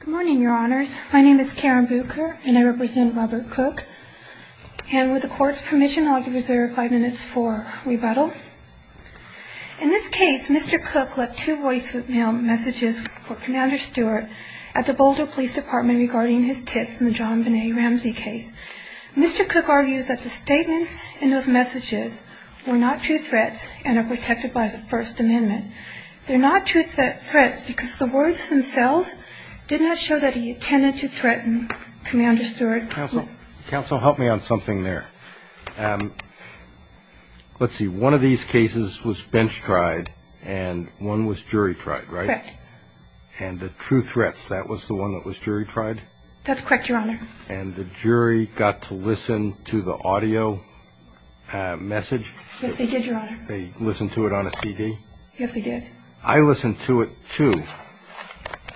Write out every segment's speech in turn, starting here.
Good morning, your honors. My name is Karen Bucher, and I represent Robert Cook. And with the court's permission, I'll reserve five minutes for rebuttal. In this case, Mr. Cook left two voicemail messages for Commander Stewart at the Boulder Police Department regarding his tips in the John Benet Ramsey case. Mr. Cook argues that the statements in those messages were not true threats and are protected by the First Amendment. They're not true threats because the words themselves did not show that he intended to threaten Commander Stewart. Counsel, help me on something there. Let's see. One of these cases was bench-tried and one was jury-tried, right? Correct. And the true threats, that was the one that was jury-tried? That's correct, your honor. And the jury got to listen to the audio message? Yes, they did, your honor. They listened to it on a CD? Yes, they did. I listened to it, too.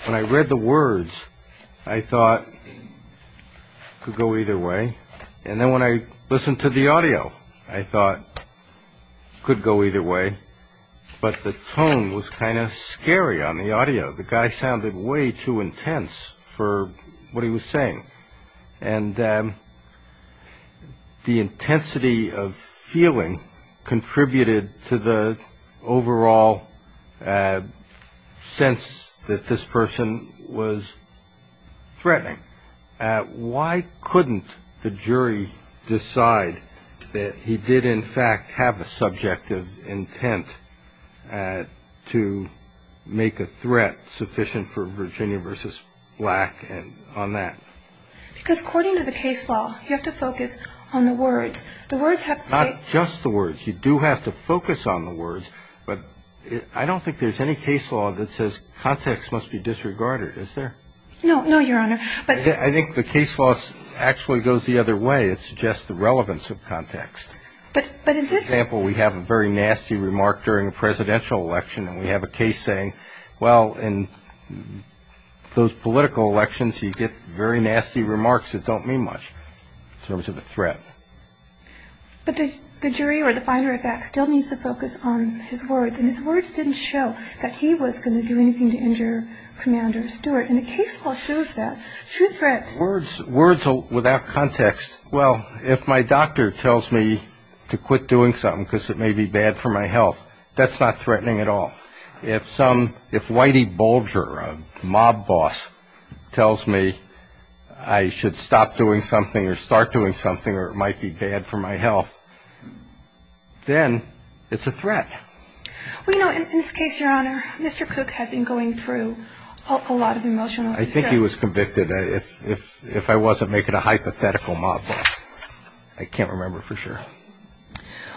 When I read the words, I thought it could go either way. And then when I listened to the audio, I thought it could go either way. But the tone was kind of scary on the audio. The guy sounded way too intense for what he was saying. And the intensity of feeling contributed to the overall sense that this person was threatening. Why couldn't the jury decide that he did, in fact, have a subjective intent to make a threat sufficient for Virginia v. Black on that? Because according to the case law, you have to focus on the words. The words have to say – Not just the words. You do have to focus on the words. But I don't think there's any case law that says context must be disregarded, is there? No, no, your honor. I think the case law actually goes the other way. It suggests the relevance of context. But in this – For example, we have a very nasty remark during a presidential election, and we have a case saying, well, in those political elections, you get very nasty remarks that don't mean much in terms of a threat. But the jury or the finder, in fact, still needs to focus on his words. And his words didn't show that he was going to do anything to injure Commander Stewart. And the case law shows that. True threats. Words without context. Well, if my doctor tells me to quit doing something because it may be bad for my health, that's not threatening at all. If some – if Whitey Bulger, a mob boss, tells me I should stop doing something or start doing something or it might be bad for my health, then it's a threat. Well, you know, in this case, your honor, Mr. Cook had been going through a lot of emotional distress. I think he was convicted if I wasn't making a hypothetical mob boss. I can't remember for sure.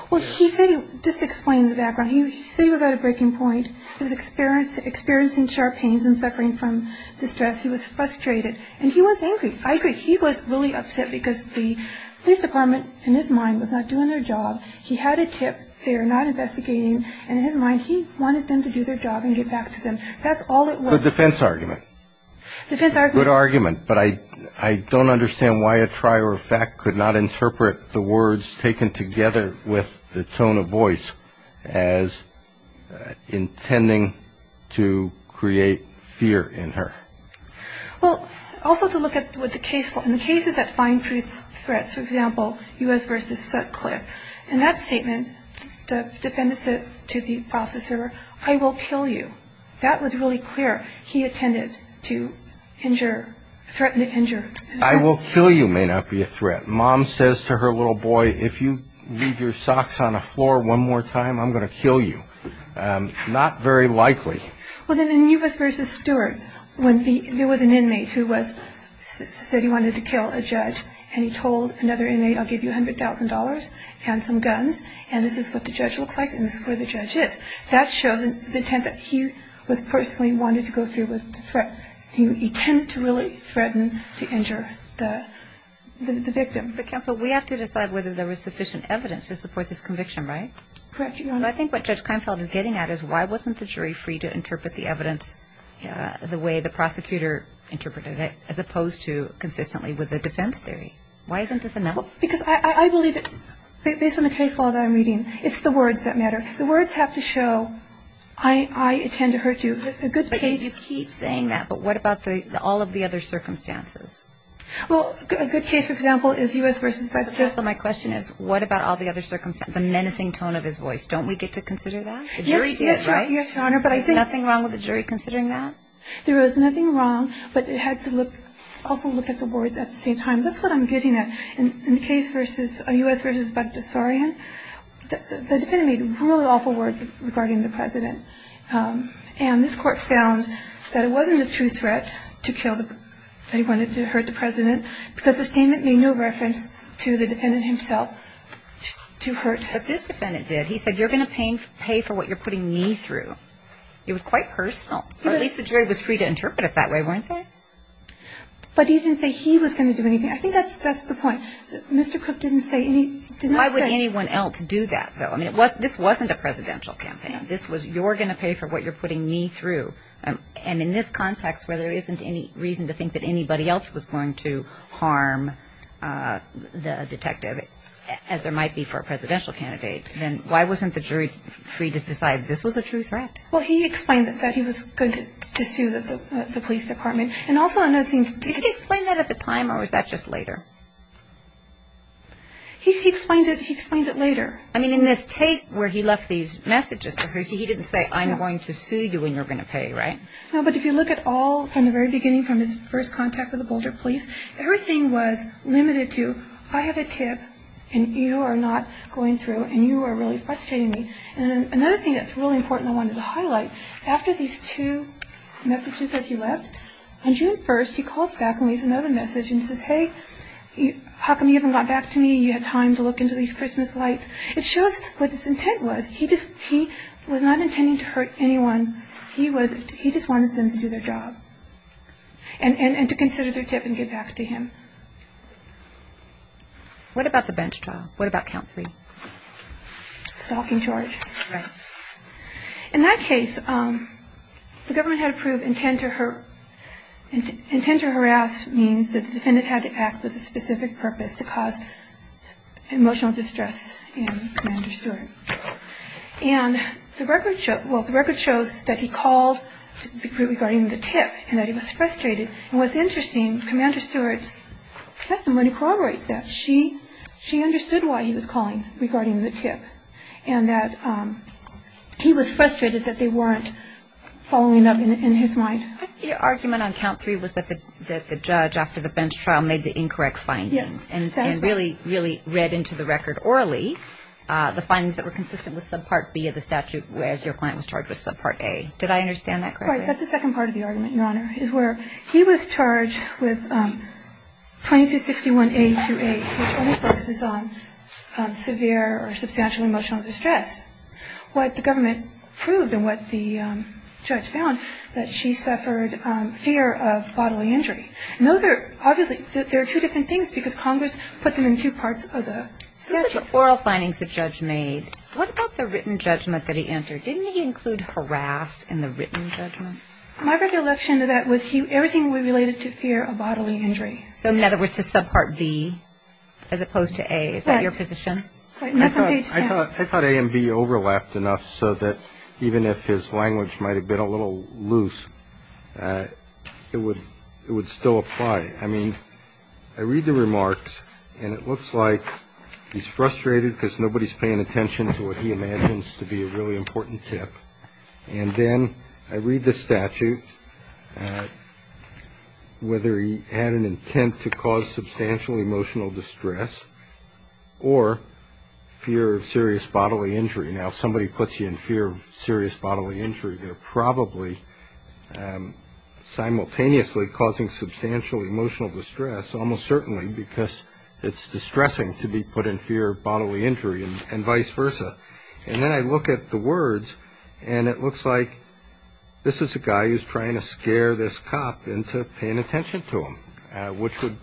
Well, he said – just to explain the background. He said he was at a breaking point. He was experiencing sharp pains and suffering from distress. He was frustrated. And he was angry. I agree. He was really upset because the police department, in his mind, was not doing their job. He had a tip. They are not investigating. And in his mind, he wanted them to do their job and get back to them. That's all it was. Good defense argument. Defense argument. Good argument. But I don't understand why a trier of fact could not interpret the words taken together with the tone of voice as intending to create fear in her. Well, also to look at what the case – in the cases that find truth threats, for example, U.S. v. Sutcliffe, in that statement, the defendant said to the prosecutor, I will kill you. That was really clear. He intended to injure – threaten to injure. I will kill you may not be a threat. Mom says to her little boy, if you leave your socks on the floor one more time, I'm going to kill you. Not very likely. Well, then in U.S. v. Stewart, when there was an inmate who said he wanted to kill a judge and he told another inmate, I'll give you $100,000 and some guns, and this is what the judge looks like and this is where the judge is. That shows the intent that he was personally wanted to go through with the threat. He intended to really threaten to injure the victim. But, counsel, we have to decide whether there was sufficient evidence to support this conviction, right? Correct, Your Honor. I think what Judge Kleinfeld is getting at is why wasn't the jury free to interpret the evidence the way the prosecutor interpreted it as opposed to consistently with the defense theory? Why isn't this enough? Because I believe that based on the case law that I'm reading, it's the words that matter. The words have to show I intend to hurt you. But you keep saying that. But what about all of the other circumstances? Well, a good case, for example, is U.S. v. Bector. So my question is, what about all the other circumstances? The menacing tone of his voice, don't we get to consider that? Yes, Your Honor. There's nothing wrong with the jury considering that? There is nothing wrong, but it had to also look at the words at the same time. That's what I'm getting at. In the case versus U.S. v. Bector Sorian, the defendant made really awful words regarding the President. And this Court found that it wasn't a true threat to kill the President, that he wanted to hurt the President, because the statement made no reference to the defendant himself to hurt him. But this defendant did. He said, you're going to pay for what you're putting me through. It was quite personal. Or at least the jury was free to interpret it that way, weren't they? But he didn't say he was going to do anything. I think that's the point. Mr. Cook didn't say anything. Why would anyone else do that, though? I mean, this wasn't a presidential campaign. This was, you're going to pay for what you're putting me through. And in this context where there isn't any reason to think that anybody else was going to harm the detective, as there might be for a presidential candidate, then why wasn't the jury free to decide this was a true threat? Well, he explained that he was going to sue the police department. Did he explain that at the time or was that just later? He explained it later. I mean, in this tape where he left these messages to her, he didn't say, I'm going to sue you and you're going to pay, right? No, but if you look at all from the very beginning, from his first contact with the Boulder police, everything was limited to, I have a tip and you are not going through and you are really frustrating me. And another thing that's really important I wanted to highlight, after these two messages that he left, on June 1st he calls back and leaves another message and says, hey, how come you haven't got back to me? You had time to look into these Christmas lights. It shows what his intent was. He was not intending to hurt anyone. He just wanted them to do their job and to consider their tip and get back to him. What about the bench trial? What about count three? Stalking charge. Right. In that case, the government had approved intent to harass means that the defendant had to act with a specific purpose to cause emotional distress in Commander Stewart. And the record shows that he called regarding the tip and that he was frustrated. And what's interesting, Commander Stewart's testimony corroborates that. She understood why he was calling regarding the tip and that he was frustrated that they weren't following up in his mind. The argument on count three was that the judge, after the bench trial, made the incorrect findings. Yes, that is right. And really read into the record orally the findings that were consistent with subpart B of the statute whereas your client was charged with subpart A. Did I understand that correctly? Right. That's the second part of the argument, Your Honor, is where he was charged with 2261A28, which only focuses on severe or substantial emotional distress. What the government proved and what the judge found, that she suffered fear of bodily injury. And those are obviously, there are two different things because Congress put them in two parts of the statute. Those are the oral findings the judge made. What about the written judgment that he entered? Didn't he include harass in the written judgment? My recollection of that was everything related to fear of bodily injury. So in other words, to subpart B as opposed to A. Is that your position? I thought A and B overlapped enough so that even if his language might have been a little loose, it would still apply. I mean, I read the remarks and it looks like he's frustrated because nobody is paying attention to what he imagines to be a really important tip. And then I read the statute, whether he had an intent to cause substantial emotional distress or fear of serious bodily injury. Now, if somebody puts you in fear of serious bodily injury, they're probably simultaneously causing substantial emotional distress, almost certainly because it's distressing to be put in fear of bodily injury and vice versa. And then I look at the words and it looks like this is a guy who's trying to scare this cop into paying attention to him, which would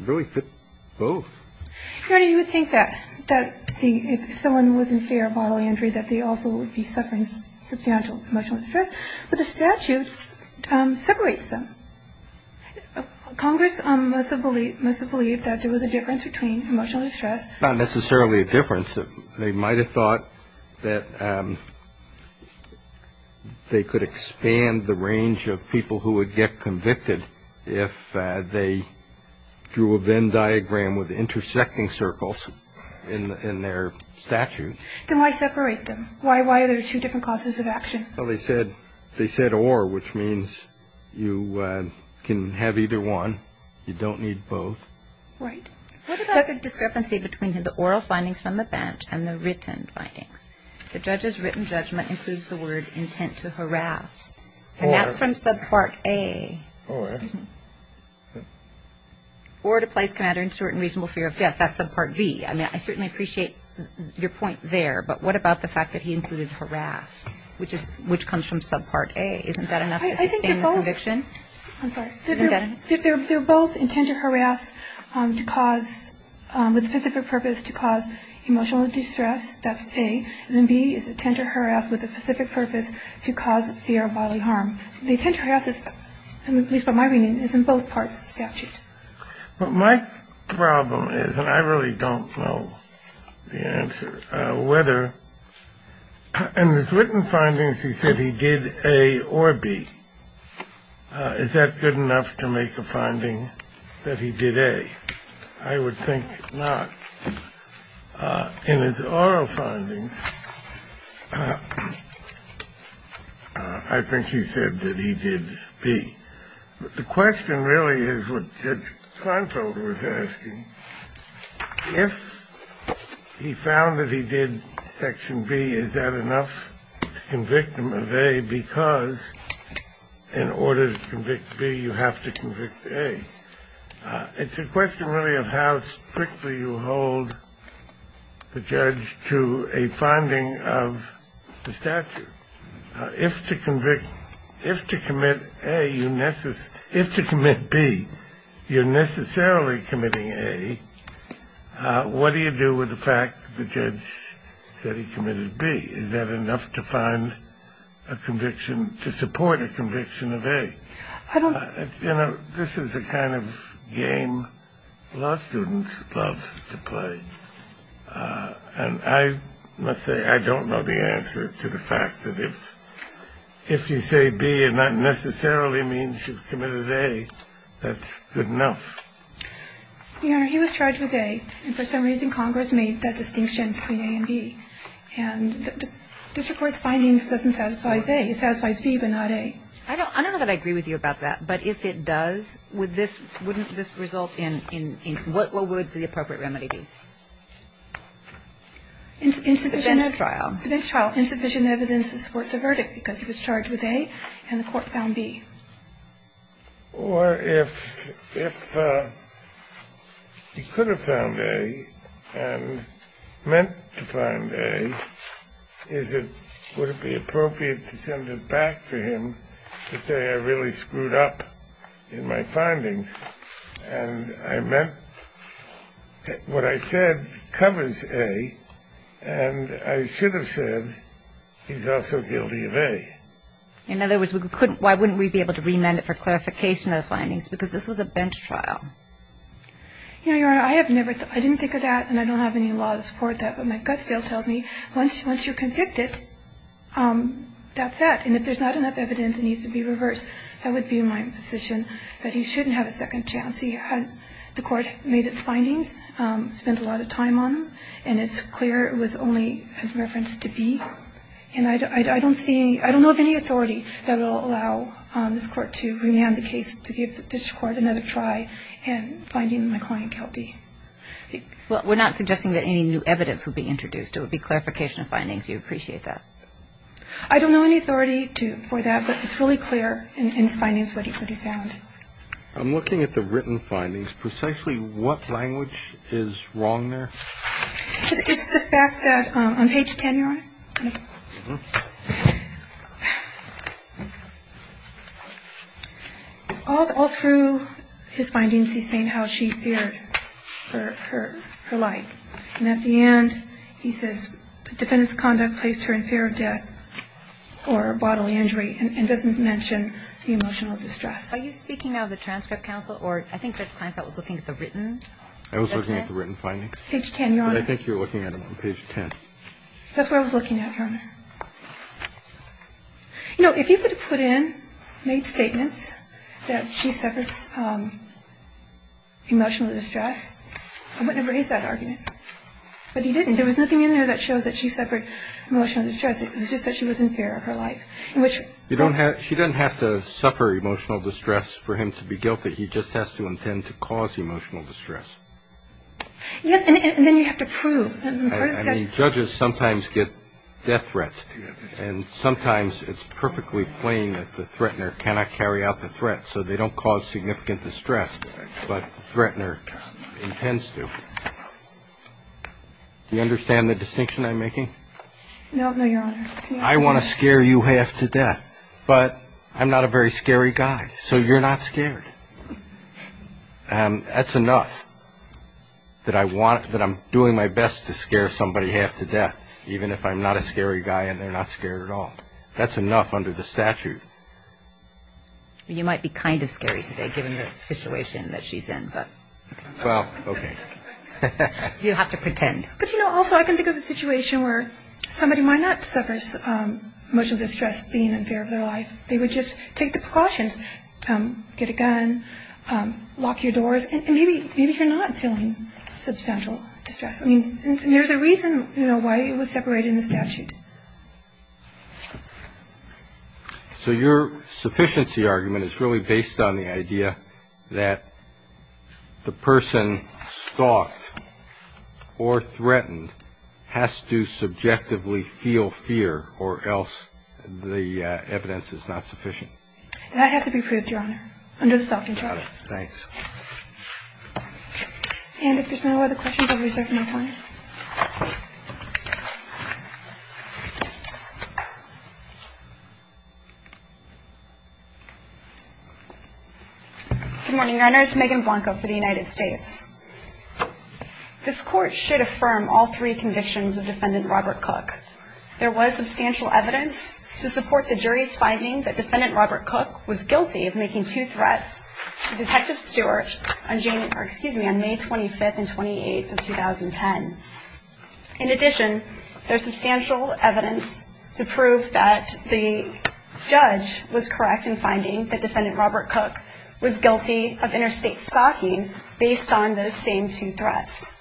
really fit both. Your Honor, you would think that if someone was in fear of bodily injury, that they also would be suffering substantial emotional distress. But the statute separates them. Congress must have believed that there was a difference between emotional distress. Not necessarily a difference. They might have thought that they could expand the range of people who would get convicted if they drew a Venn diagram with intersecting circles in their statute. Then why separate them? Why are there two different causes of action? Well, they said or, which means you can have either one. You don't need both. Right. What about the discrepancy between the oral findings from the bench and the written findings? The judge's written judgment includes the word intent to harass. And that's from subpart A. Oh, excellent. Or to place commander in short and reasonable fear of death. That's subpart B. I mean, I certainly appreciate your point there, but what about the fact that he included harass, which comes from subpart A? Isn't that enough to sustain the conviction? I'm sorry. They're both intent to harass to cause, with specific purpose, to cause emotional distress. That's A. And then B is intent to harass with a specific purpose to cause fear of bodily harm. The intent to harass is, at least by my reading, is in both parts of the statute. But my problem is, and I really don't know the answer, whether in the written findings he said he did A or B. Is that good enough to make a finding that he did A? I would think not. In his oral findings, I think he said that he did B. But the question really is what Judge Kleinfeld was asking. If he found that he did section B, is that enough to convict him of A? Because in order to convict B, you have to convict A. It's a question really of how strictly you hold the judge to a finding of the statute. If to commit B, you're necessarily committing A, what do you do with the fact the judge said he committed B? Is that enough to find a conviction, to support a conviction of A? You know, this is the kind of game law students love to play. And I must say I don't know the answer to the fact that if you say B and that necessarily means you've committed A, that's good enough. Your Honor, he was charged with A. And for some reason, Congress made that distinction between A and B. And district court's findings doesn't satisfy A. It satisfies B, but not A. I don't know that I agree with you about that. But if it does, wouldn't this result in what would the appropriate remedy be? Defense trial. Defense trial. Insufficient evidence to support the verdict, because he was charged with A and the court found B. Or if he could have found A and meant to find A, would it be appropriate to send it back for him to say I really screwed up in my findings and I meant what I said covers A and I should have said he's also guilty of A? In other words, why wouldn't we be able to remand it for clarification of the findings? Because this was a bench trial. You know, Your Honor, I have never thought of that. I didn't think of that and I don't have any law to support that. But my gut feel tells me once you're convicted, that's that. And if there's not enough evidence and it needs to be reversed, that would be my position, that he shouldn't have a second chance. The court made its findings, spent a lot of time on them, and it's clear it was only referenced to B. And I don't see any – I don't know of any authority that will allow this court to remand the case to give this court another try in finding my client guilty. Well, we're not suggesting that any new evidence would be introduced. It would be clarification of findings. Do you appreciate that? I don't know any authority for that, but it's really clear in his findings what he found. I'm looking at the written findings. Precisely what language is wrong there? It's the fact that on page 10, Your Honor, all through his findings he's saying how she feared her life. And at the end, he says the defendant's conduct placed her in fear of death or bodily injury and doesn't mention the emotional distress. Are you speaking now of the transcript, counsel, or I think that the client was looking at the written? I was looking at the written findings. Page 10, Your Honor. But I think you're looking at them on page 10. That's what I was looking at, Your Honor. You know, if he could have put in, made statements that she suffers emotional distress, I wouldn't have raised that argument. But he didn't. There was nothing in there that shows that she suffered emotional distress. It was just that she was in fear of her life. She doesn't have to suffer emotional distress for him to be guilty. He just has to intend to cause emotional distress. Yes, and then you have to prove. Judges sometimes get death threats, and sometimes it's perfectly plain that the threatener cannot carry out the threat, so they don't cause significant distress, but the threatener intends to. Do you understand the distinction I'm making? No, Your Honor. I want to scare you half to death, but I'm not a very scary guy, so you're not scared. That's enough that I'm doing my best to scare somebody half to death, even if I'm not a scary guy and they're not scared at all. That's enough under the statute. You might be kind of scary today, given the situation that she's in. Well, okay. You have to pretend. But, you know, also I can think of a situation where somebody might not suffer emotional distress being in fear of their life. They would just take the precautions, get a gun, lock your doors, and maybe you're not feeling substantial distress. I mean, there's a reason, you know, why it was separated in the statute. So your sufficiency argument is really based on the idea that the person stalked or threatened has to subjectively feel fear, or else the evidence is not sufficient. That has to be proved, Your Honor, under the stalking charge. Thanks. And if there's no other questions, I'll reserve no time. Good morning. Your Honor, this is Megan Blanco for the United States. This Court should affirm all three convictions of Defendant Robert Cook. There was substantial evidence to support the jury's finding that Defendant Robert Cook was guilty of making two threats to Detective Stewart on May 25th and 28th of 2010. In addition, there's substantial evidence to prove that the judge was correct in finding that Defendant Robert Cook was guilty of interstate stalking based on those same two threats.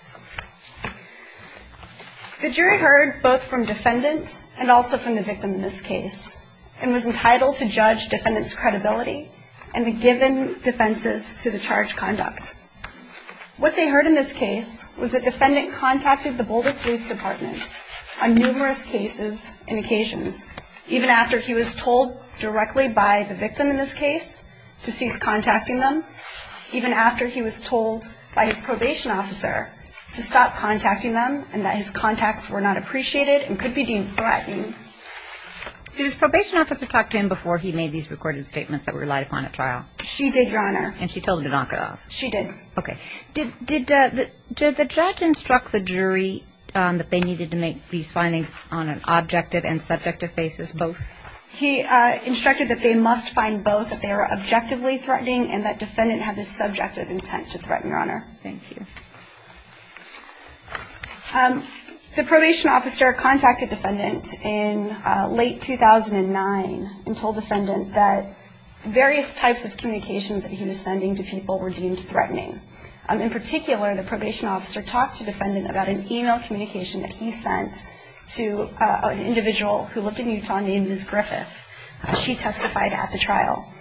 The jury heard both from Defendant and also from the victim in this case, and was entitled to judge Defendant's credibility and be given defenses to the charged conduct. What they heard in this case was that Defendant contacted the Boulder Police Department on numerous cases and occasions, even after he was told directly by the victim in this case to cease contacting them, even after he was told by his probation officer to stop contacting them, and that his contacts were not appreciated and could be deemed threatening. Did his probation officer talk to him before he made these recorded statements that were relied upon at trial? She did, Your Honor. And she told him to knock it off? She did. Okay. Did the judge instruct the jury that they needed to make these findings on an objective and subjective basis, both? He instructed that they must find both that they were objectively threatening and that Defendant had the subjective intent to threaten, Your Honor. Thank you. The probation officer contacted Defendant in late 2009 and told Defendant that various types of communications that he was sending to people were deemed threatening. In particular, the probation officer talked to Defendant about an e-mail communication that he sent to an individual who lived in Utah named Ms. Griffith. She testified at the trial.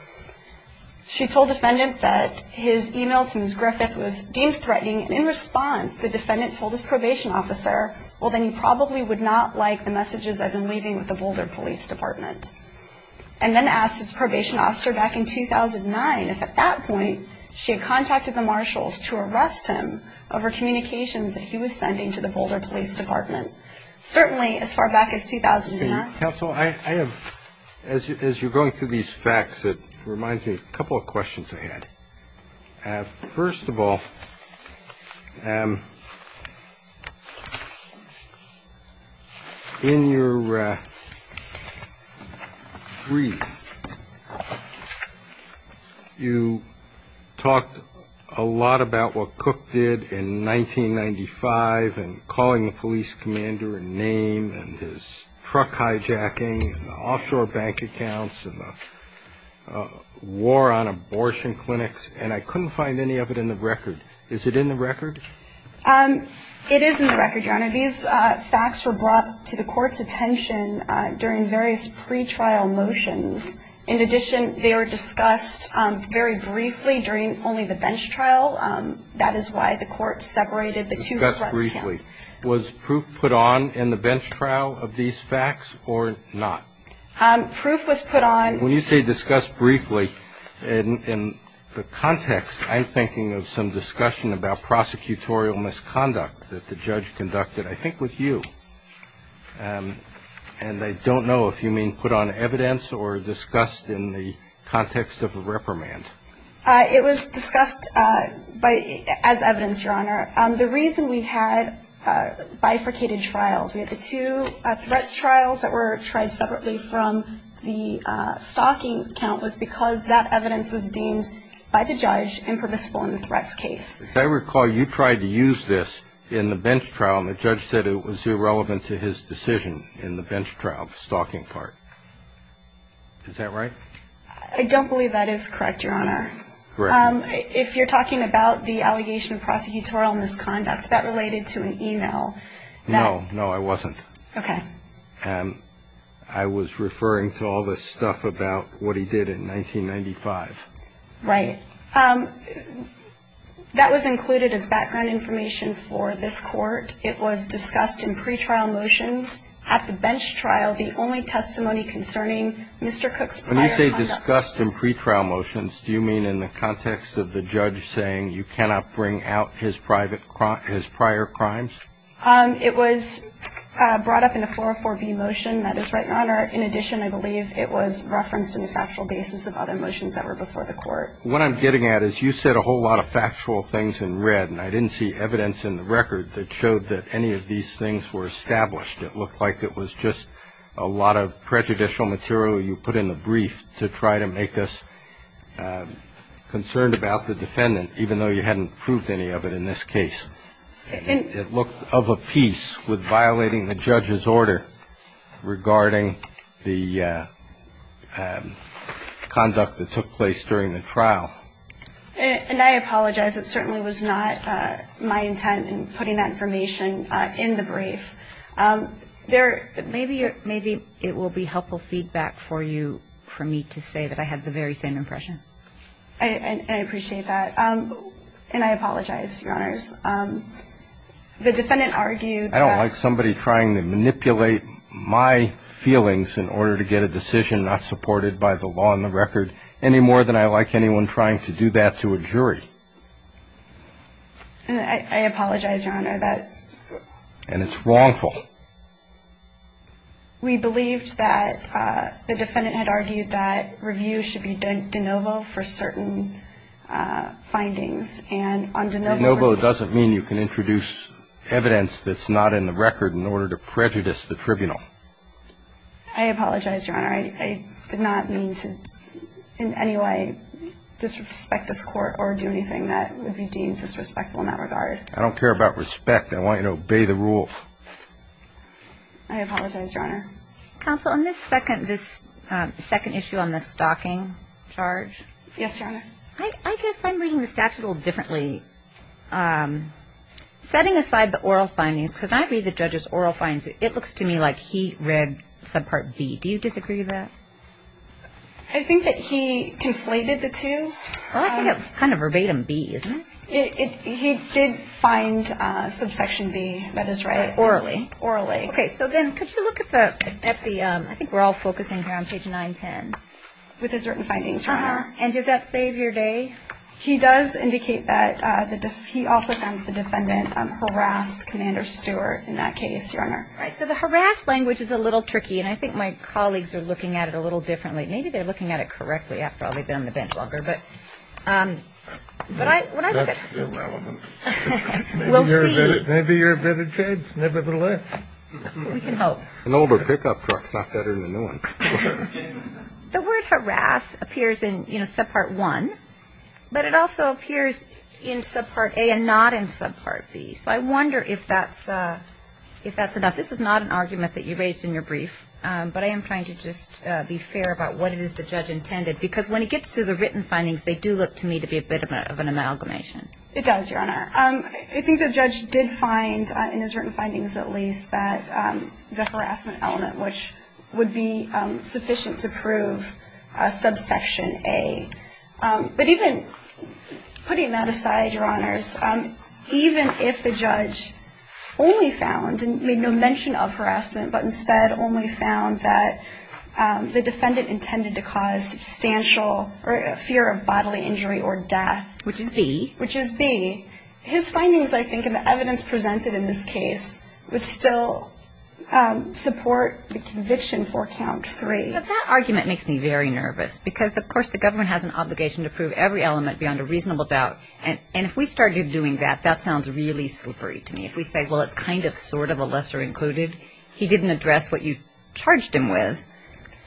She told Defendant that his e-mail to Ms. Griffith was deemed threatening, and in response the Defendant told his probation officer, well, then you probably would not like the messages I've been leaving with the Boulder Police Department. And then asked his probation officer back in 2009 if at that point she had contacted the marshals to arrest him over communications that he was sending to the Boulder Police Department. Certainly as far back as 2009. Counsel, I have, as you're going through these facts, it reminds me of a couple of questions I had. First of all, in your brief, you talked a lot about what Cook did in 1995 and calling the police commander a name and his truck hijacking and offshore bank accounts and the war on abortion clinics. And I couldn't find any of it in the record. Is it in the record? It is in the record, Your Honor. These facts were brought to the Court's attention during various pretrial motions. In addition, they were discussed very briefly during only the bench trial. That is why the Court separated the two threats. Discussed briefly. Was proof put on in the bench trial of these facts or not? Proof was put on. When you say discussed briefly, in the context, I'm thinking of some discussion about prosecutorial misconduct that the judge conducted, I think with you. And I don't know if you mean put on evidence or discussed in the context of a reprimand. It was discussed as evidence, Your Honor. The reason we had bifurcated trials, we had the two threats trials that were tried separately from the stalking count, was because that evidence was deemed by the judge impermissible in the threats case. As I recall, you tried to use this in the bench trial, and the judge said it was irrelevant to his decision in the bench trial, the stalking part. Is that right? I don't believe that is correct, Your Honor. Right. If you're talking about the allegation of prosecutorial misconduct, that related to an e-mail. No. No, I wasn't. Okay. I was referring to all this stuff about what he did in 1995. Right. That was included as background information for this Court. It was discussed in pretrial motions at the bench trial, the only testimony concerning Mr. Cook's prior conduct. When you say discussed in pretrial motions, do you mean in the context of the judge saying you cannot bring out his prior crimes? It was brought up in a 404B motion. That is right, Your Honor. In addition, I believe it was referenced in the factual basis of other motions that were before the Court. What I'm getting at is you said a whole lot of factual things in red, and I didn't see evidence in the record that showed that any of these things were established. It looked like it was just a lot of prejudicial material you put in the brief to try to make us concerned about the defendant, even though you hadn't proved any of it in this case. It looked of a piece with violating the judge's order regarding the conduct that took place during the trial. And I apologize. It certainly was not my intent in putting that information in the brief. There are – Maybe it will be helpful feedback for you for me to say that I had the very same impression. I appreciate that. And I apologize, Your Honors. The defendant argued that – I don't like somebody trying to manipulate my feelings in order to get a decision not supported by the law and the record any more than I like anyone trying to do that to a jury. I apologize, Your Honor. And it's wrongful. We believed that the defendant had argued that review should be de novo for certain findings. And on de novo – De novo doesn't mean you can introduce evidence that's not in the record in order to prejudice the tribunal. I apologize, Your Honor. I did not mean to in any way disrespect this court or do anything that would be deemed disrespectful in that regard. I don't care about respect. I want you to obey the rules. I apologize, Your Honor. Counsel, on this second issue on the stalking charge – Yes, Your Honor. I guess I'm reading the statute a little differently. Setting aside the oral findings, could I read the judge's oral findings? It looks to me like he read subpart B. Do you disagree with that? I think that he conflated the two. Well, I think it's kind of verbatim B, isn't it? He did find subsection B, that is right. Orally. Orally. Okay. So then could you look at the – I think we're all focusing here on page 910. With his written findings, Your Honor. And does that save your day? He does indicate that he also found the defendant harassed Commander Stewart in that case, Your Honor. Right. So the harass language is a little tricky. And I think my colleagues are looking at it a little differently. Maybe they're looking at it correctly. I've probably been on the bench longer. But when I look at – That's irrelevant. We'll see. Maybe you're a better judge nevertheless. We can hope. An older pickup truck's not better than a new one. The word harass appears in, you know, subpart 1. But it also appears in subpart A and not in subpart B. So I wonder if that's enough. This is not an argument that you raised in your brief. But I am trying to just be fair about what it is the judge intended. Because when it gets to the written findings, they do look to me to be a bit of an amalgamation. It does, Your Honor. I think the judge did find, in his written findings at least, that the harassment element, which would be sufficient to prove subsection A. But even putting that aside, Your Honors, even if the judge only found and made no mention of harassment, but instead only found that the defendant intended to cause substantial fear of bodily injury or death. Which is B. Which is B. His findings, I think, and the evidence presented in this case would still support the conviction for count 3. But that argument makes me very nervous. Because, of course, the government has an obligation to prove every element beyond a reasonable doubt. And if we started doing that, that sounds really slippery to me. If we say, well, it's kind of, sort of, a lesser included. He didn't address what you charged him with,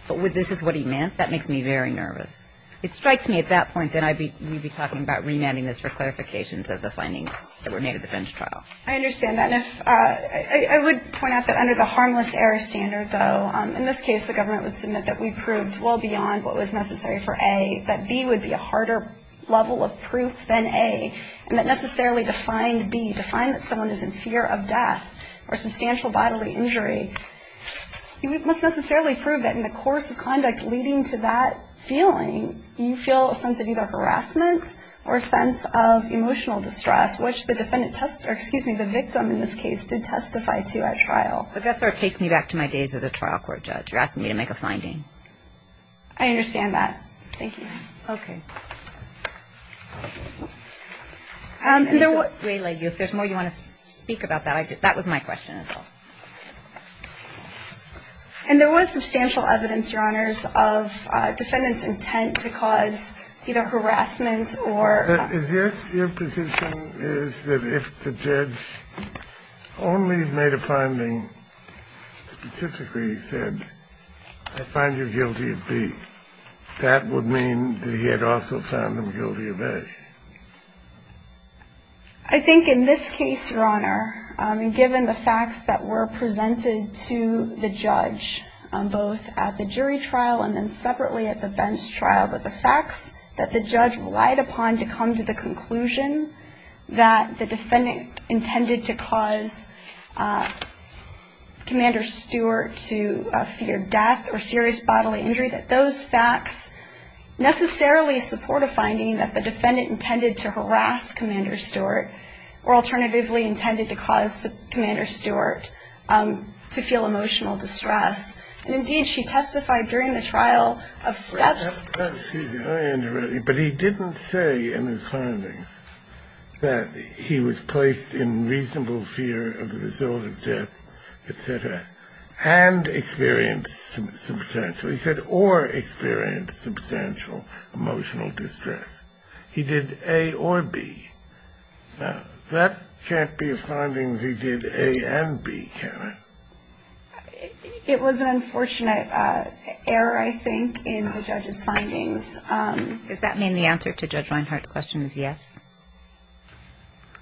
but this is what he meant, that makes me very nervous. It strikes me at that point that we'd be talking about remanding this for clarifications of the findings that were made at the bench trial. I understand that. And I would point out that under the harmless error standard, though, in this case the government would submit that we proved well beyond what was necessary for A. That B would be a harder level of proof than A. And that necessarily to find B, to find that someone is in fear of death or substantial bodily injury, you must necessarily prove that in the course of conduct leading to that feeling, you feel a sense of either harassment or a sense of emotional distress, I guess sort of takes me back to my days as a trial court judge. You're asking me to make a finding. I understand that. Thank you. Okay. If there's more you want to speak about that, that was my question as well. And there was substantial evidence, Your Honors, of defendants' intent to cause either harassment or Is this your position is that if the judge only made a finding specifically said, I find you guilty of B, that would mean that he had also found them guilty of A? I think in this case, Your Honor, given the facts that were presented to the judge both at the jury trial and then separately at the bench trial, that the facts that the judge relied upon to come to the conclusion that the defendant intended to cause Commander Stewart to fear death or serious bodily injury, that those facts necessarily support a finding that the defendant intended to harass Commander Stewart or alternatively intended to cause Commander Stewart to feel emotional distress. And indeed, she testified during the trial of steps. Excuse me. But he didn't say in his findings that he was placed in reasonable fear of the result of death, et cetera, and experienced substantial. He said or experienced substantial emotional distress. He did A or B. That can't be a finding he did A and B, can it? It was an unfortunate error, I think, in the judge's findings. Does that mean the answer to Judge Reinhart's question is yes?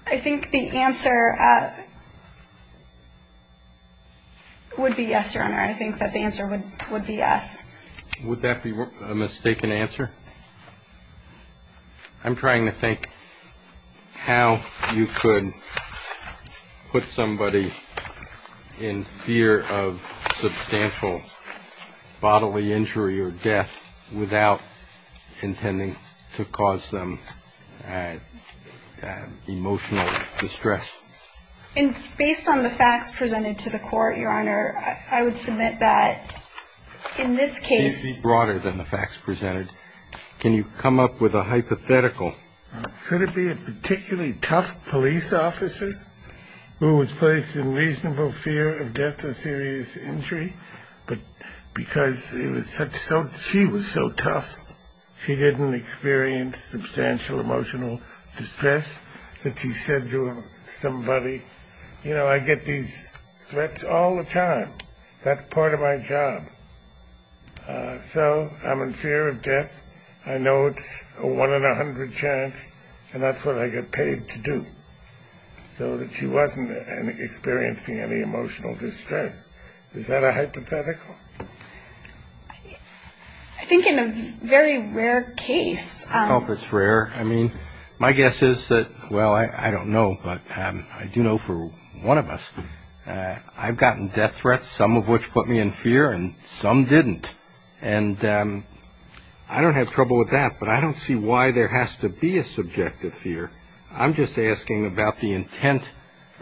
I think the answer would be yes, Your Honor. I think that the answer would be yes. Would that be a mistaken answer? I'm trying to think how you could put somebody in fear of substantial bodily injury or death without intending to cause them emotional distress. Based on the facts presented to the Court, Your Honor, I would submit that in this case ---- Can you come up with a hypothetical? Could it be a particularly tough police officer who was placed in reasonable fear of death or serious injury, but because she was so tough, she didn't experience substantial emotional distress, that she said to somebody, you know, I get these threats all the time. That's part of my job. So I'm in fear of death. I know it's a one in a hundred chance, and that's what I get paid to do, so that she wasn't experiencing any emotional distress. Is that a hypothetical? I think in a very rare case ---- I don't know if it's rare. I mean, my guess is that, well, I don't know, but I do know for one of us, I've gotten death threats, some of which put me in fear, and some didn't. And I don't have trouble with that, but I don't see why there has to be a subjective fear. I'm just asking about the intent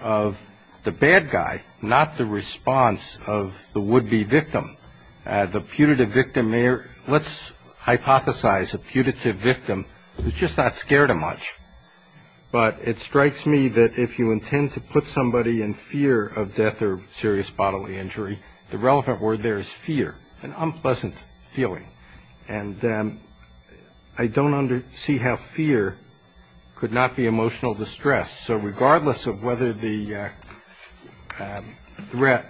of the bad guy, not the response of the would-be victim. The putative victim may or ---- Let's hypothesize a putative victim who's just not scared of much. But it strikes me that if you intend to put somebody in fear of death or serious bodily injury, the relevant word there is fear, an unpleasant feeling. And I don't see how fear could not be emotional distress. So regardless of whether the threat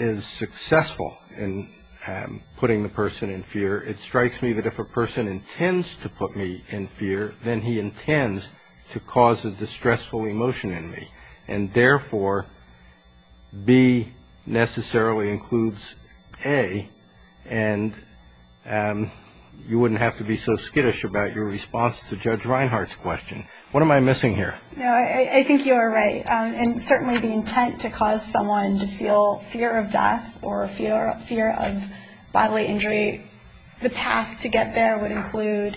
is successful in putting the person in fear, it strikes me that if a person intends to put me in fear, then he intends to cause a distressful emotion in me. And therefore, B necessarily includes A, and you wouldn't have to be so skittish about your response to Judge Reinhart's question. What am I missing here? No, I think you are right. And certainly the intent to cause someone to feel fear of death or fear of bodily injury, the path to get there would include,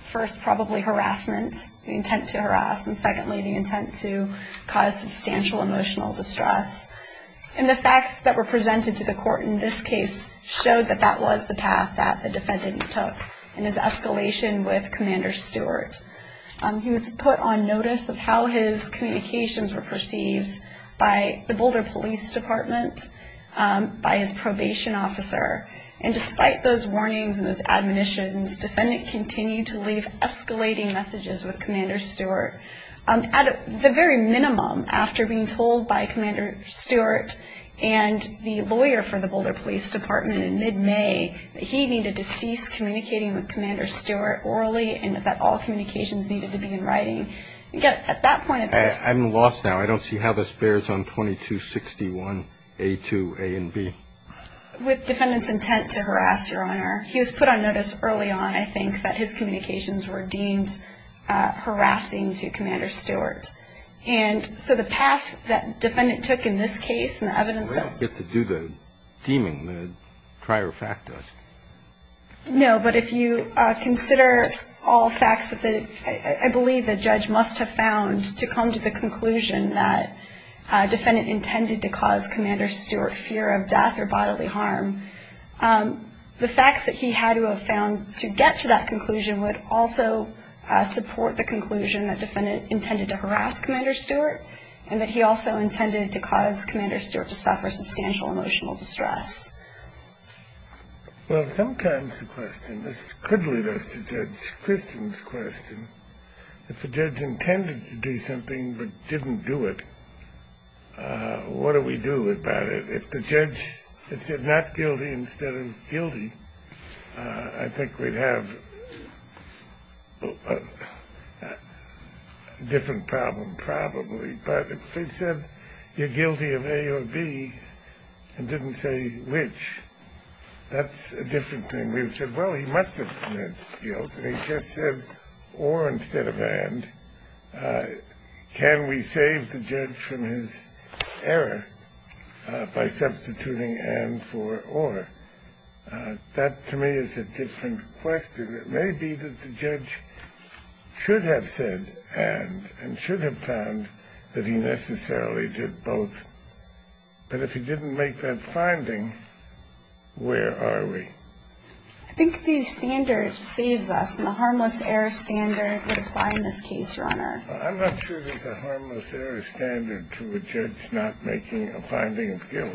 first, probably harassment, the intent to harass, and secondly, the intent to cause substantial emotional distress. And the facts that were presented to the court in this case showed that that was the path that the defendant took in his escalation with Commander Stewart. He was put on notice of how his communications were perceived by the Boulder Police Department, by his probation officer. And despite those warnings and those admonitions, the defendant continued to leave escalating messages with Commander Stewart. At the very minimum, after being told by Commander Stewart and the lawyer for the Boulder Police Department in mid-May that he needed to cease communicating with Commander Stewart orally and that all communications needed to be in writing, at that point... I'm lost now. I don't see how this bears on 2261A2A and B. With the defendant's intent to harass, Your Honor, he was put on notice early on, I think, that his communications were deemed harassing to Commander Stewart. And so the path that the defendant took in this case and the evidence that... We don't get to do the deeming, the trier facto. No, but if you consider all facts that I believe the judge must have found to come to the conclusion that the defendant intended to cause Commander Stewart fear of death or bodily harm, the facts that he had to have found to get to that conclusion would also support the conclusion that the defendant intended to harass Commander Stewart and that he also intended to cause Commander Stewart to suffer substantial emotional distress. Well, sometimes the question... This could lead us to Judge Christian's question. If a judge intended to do something but didn't do it, what do we do about it? If the judge had said not guilty instead of guilty, I think we'd have a different problem probably. But if he said you're guilty of A or B and didn't say which, that's a different thing. We would have said, well, he must have meant guilty. He just said or instead of and. Can we save the judge from his error by substituting and for or? That to me is a different question. It may be that the judge should have said and and should have found that he necessarily did both. But if he didn't make that finding, where are we? I think the standard saves us, and the harmless error standard would apply in this case, Your Honor. I'm not sure there's a harmless error standard to a judge not making a finding of guilt.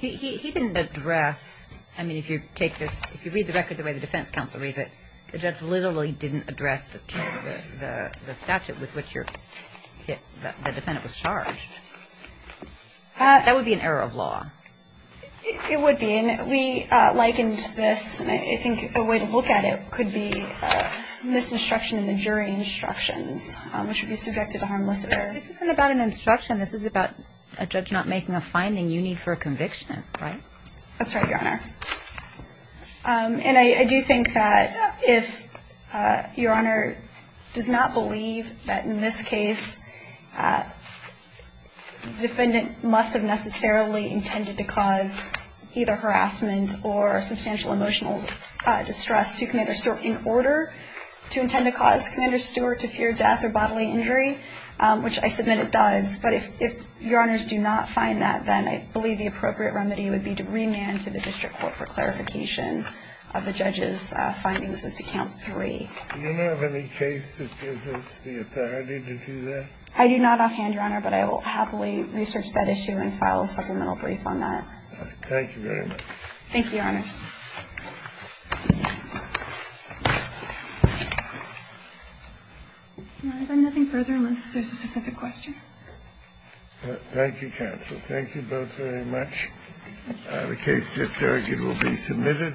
He didn't address, I mean, if you take this, if you read the record the way the defense counsel reads it, the judge literally didn't address the statute with which the defendant was charged. That would be an error of law. It would be, and we likened this, and I think a way to look at it could be this instruction in the jury instructions, which would be subjected to harmless error. This isn't about an instruction. This is about a judge not making a finding. You need for a conviction, right? That's right, Your Honor. And I do think that if Your Honor does not believe that in this case the defendant must have necessarily intended to cause either harassment or substantial emotional distress to Commander Stewart in order to intend to cause Commander Stewart to fear death or bodily injury, which I submit it does. But if Your Honors do not find that, then I believe the appropriate remedy would be to remand to the district court for clarification of the judge's findings as to Count 3. Do you not have any case that gives us the authority to do that? I do not offhand, Your Honor, but I will happily research that issue and file a supplemental brief on that. Thank you very much. Thank you, Your Honors. Is there nothing further, unless there's a specific question? Thank you, counsel. Thank you both very much. The case, if there are any, will be submitted.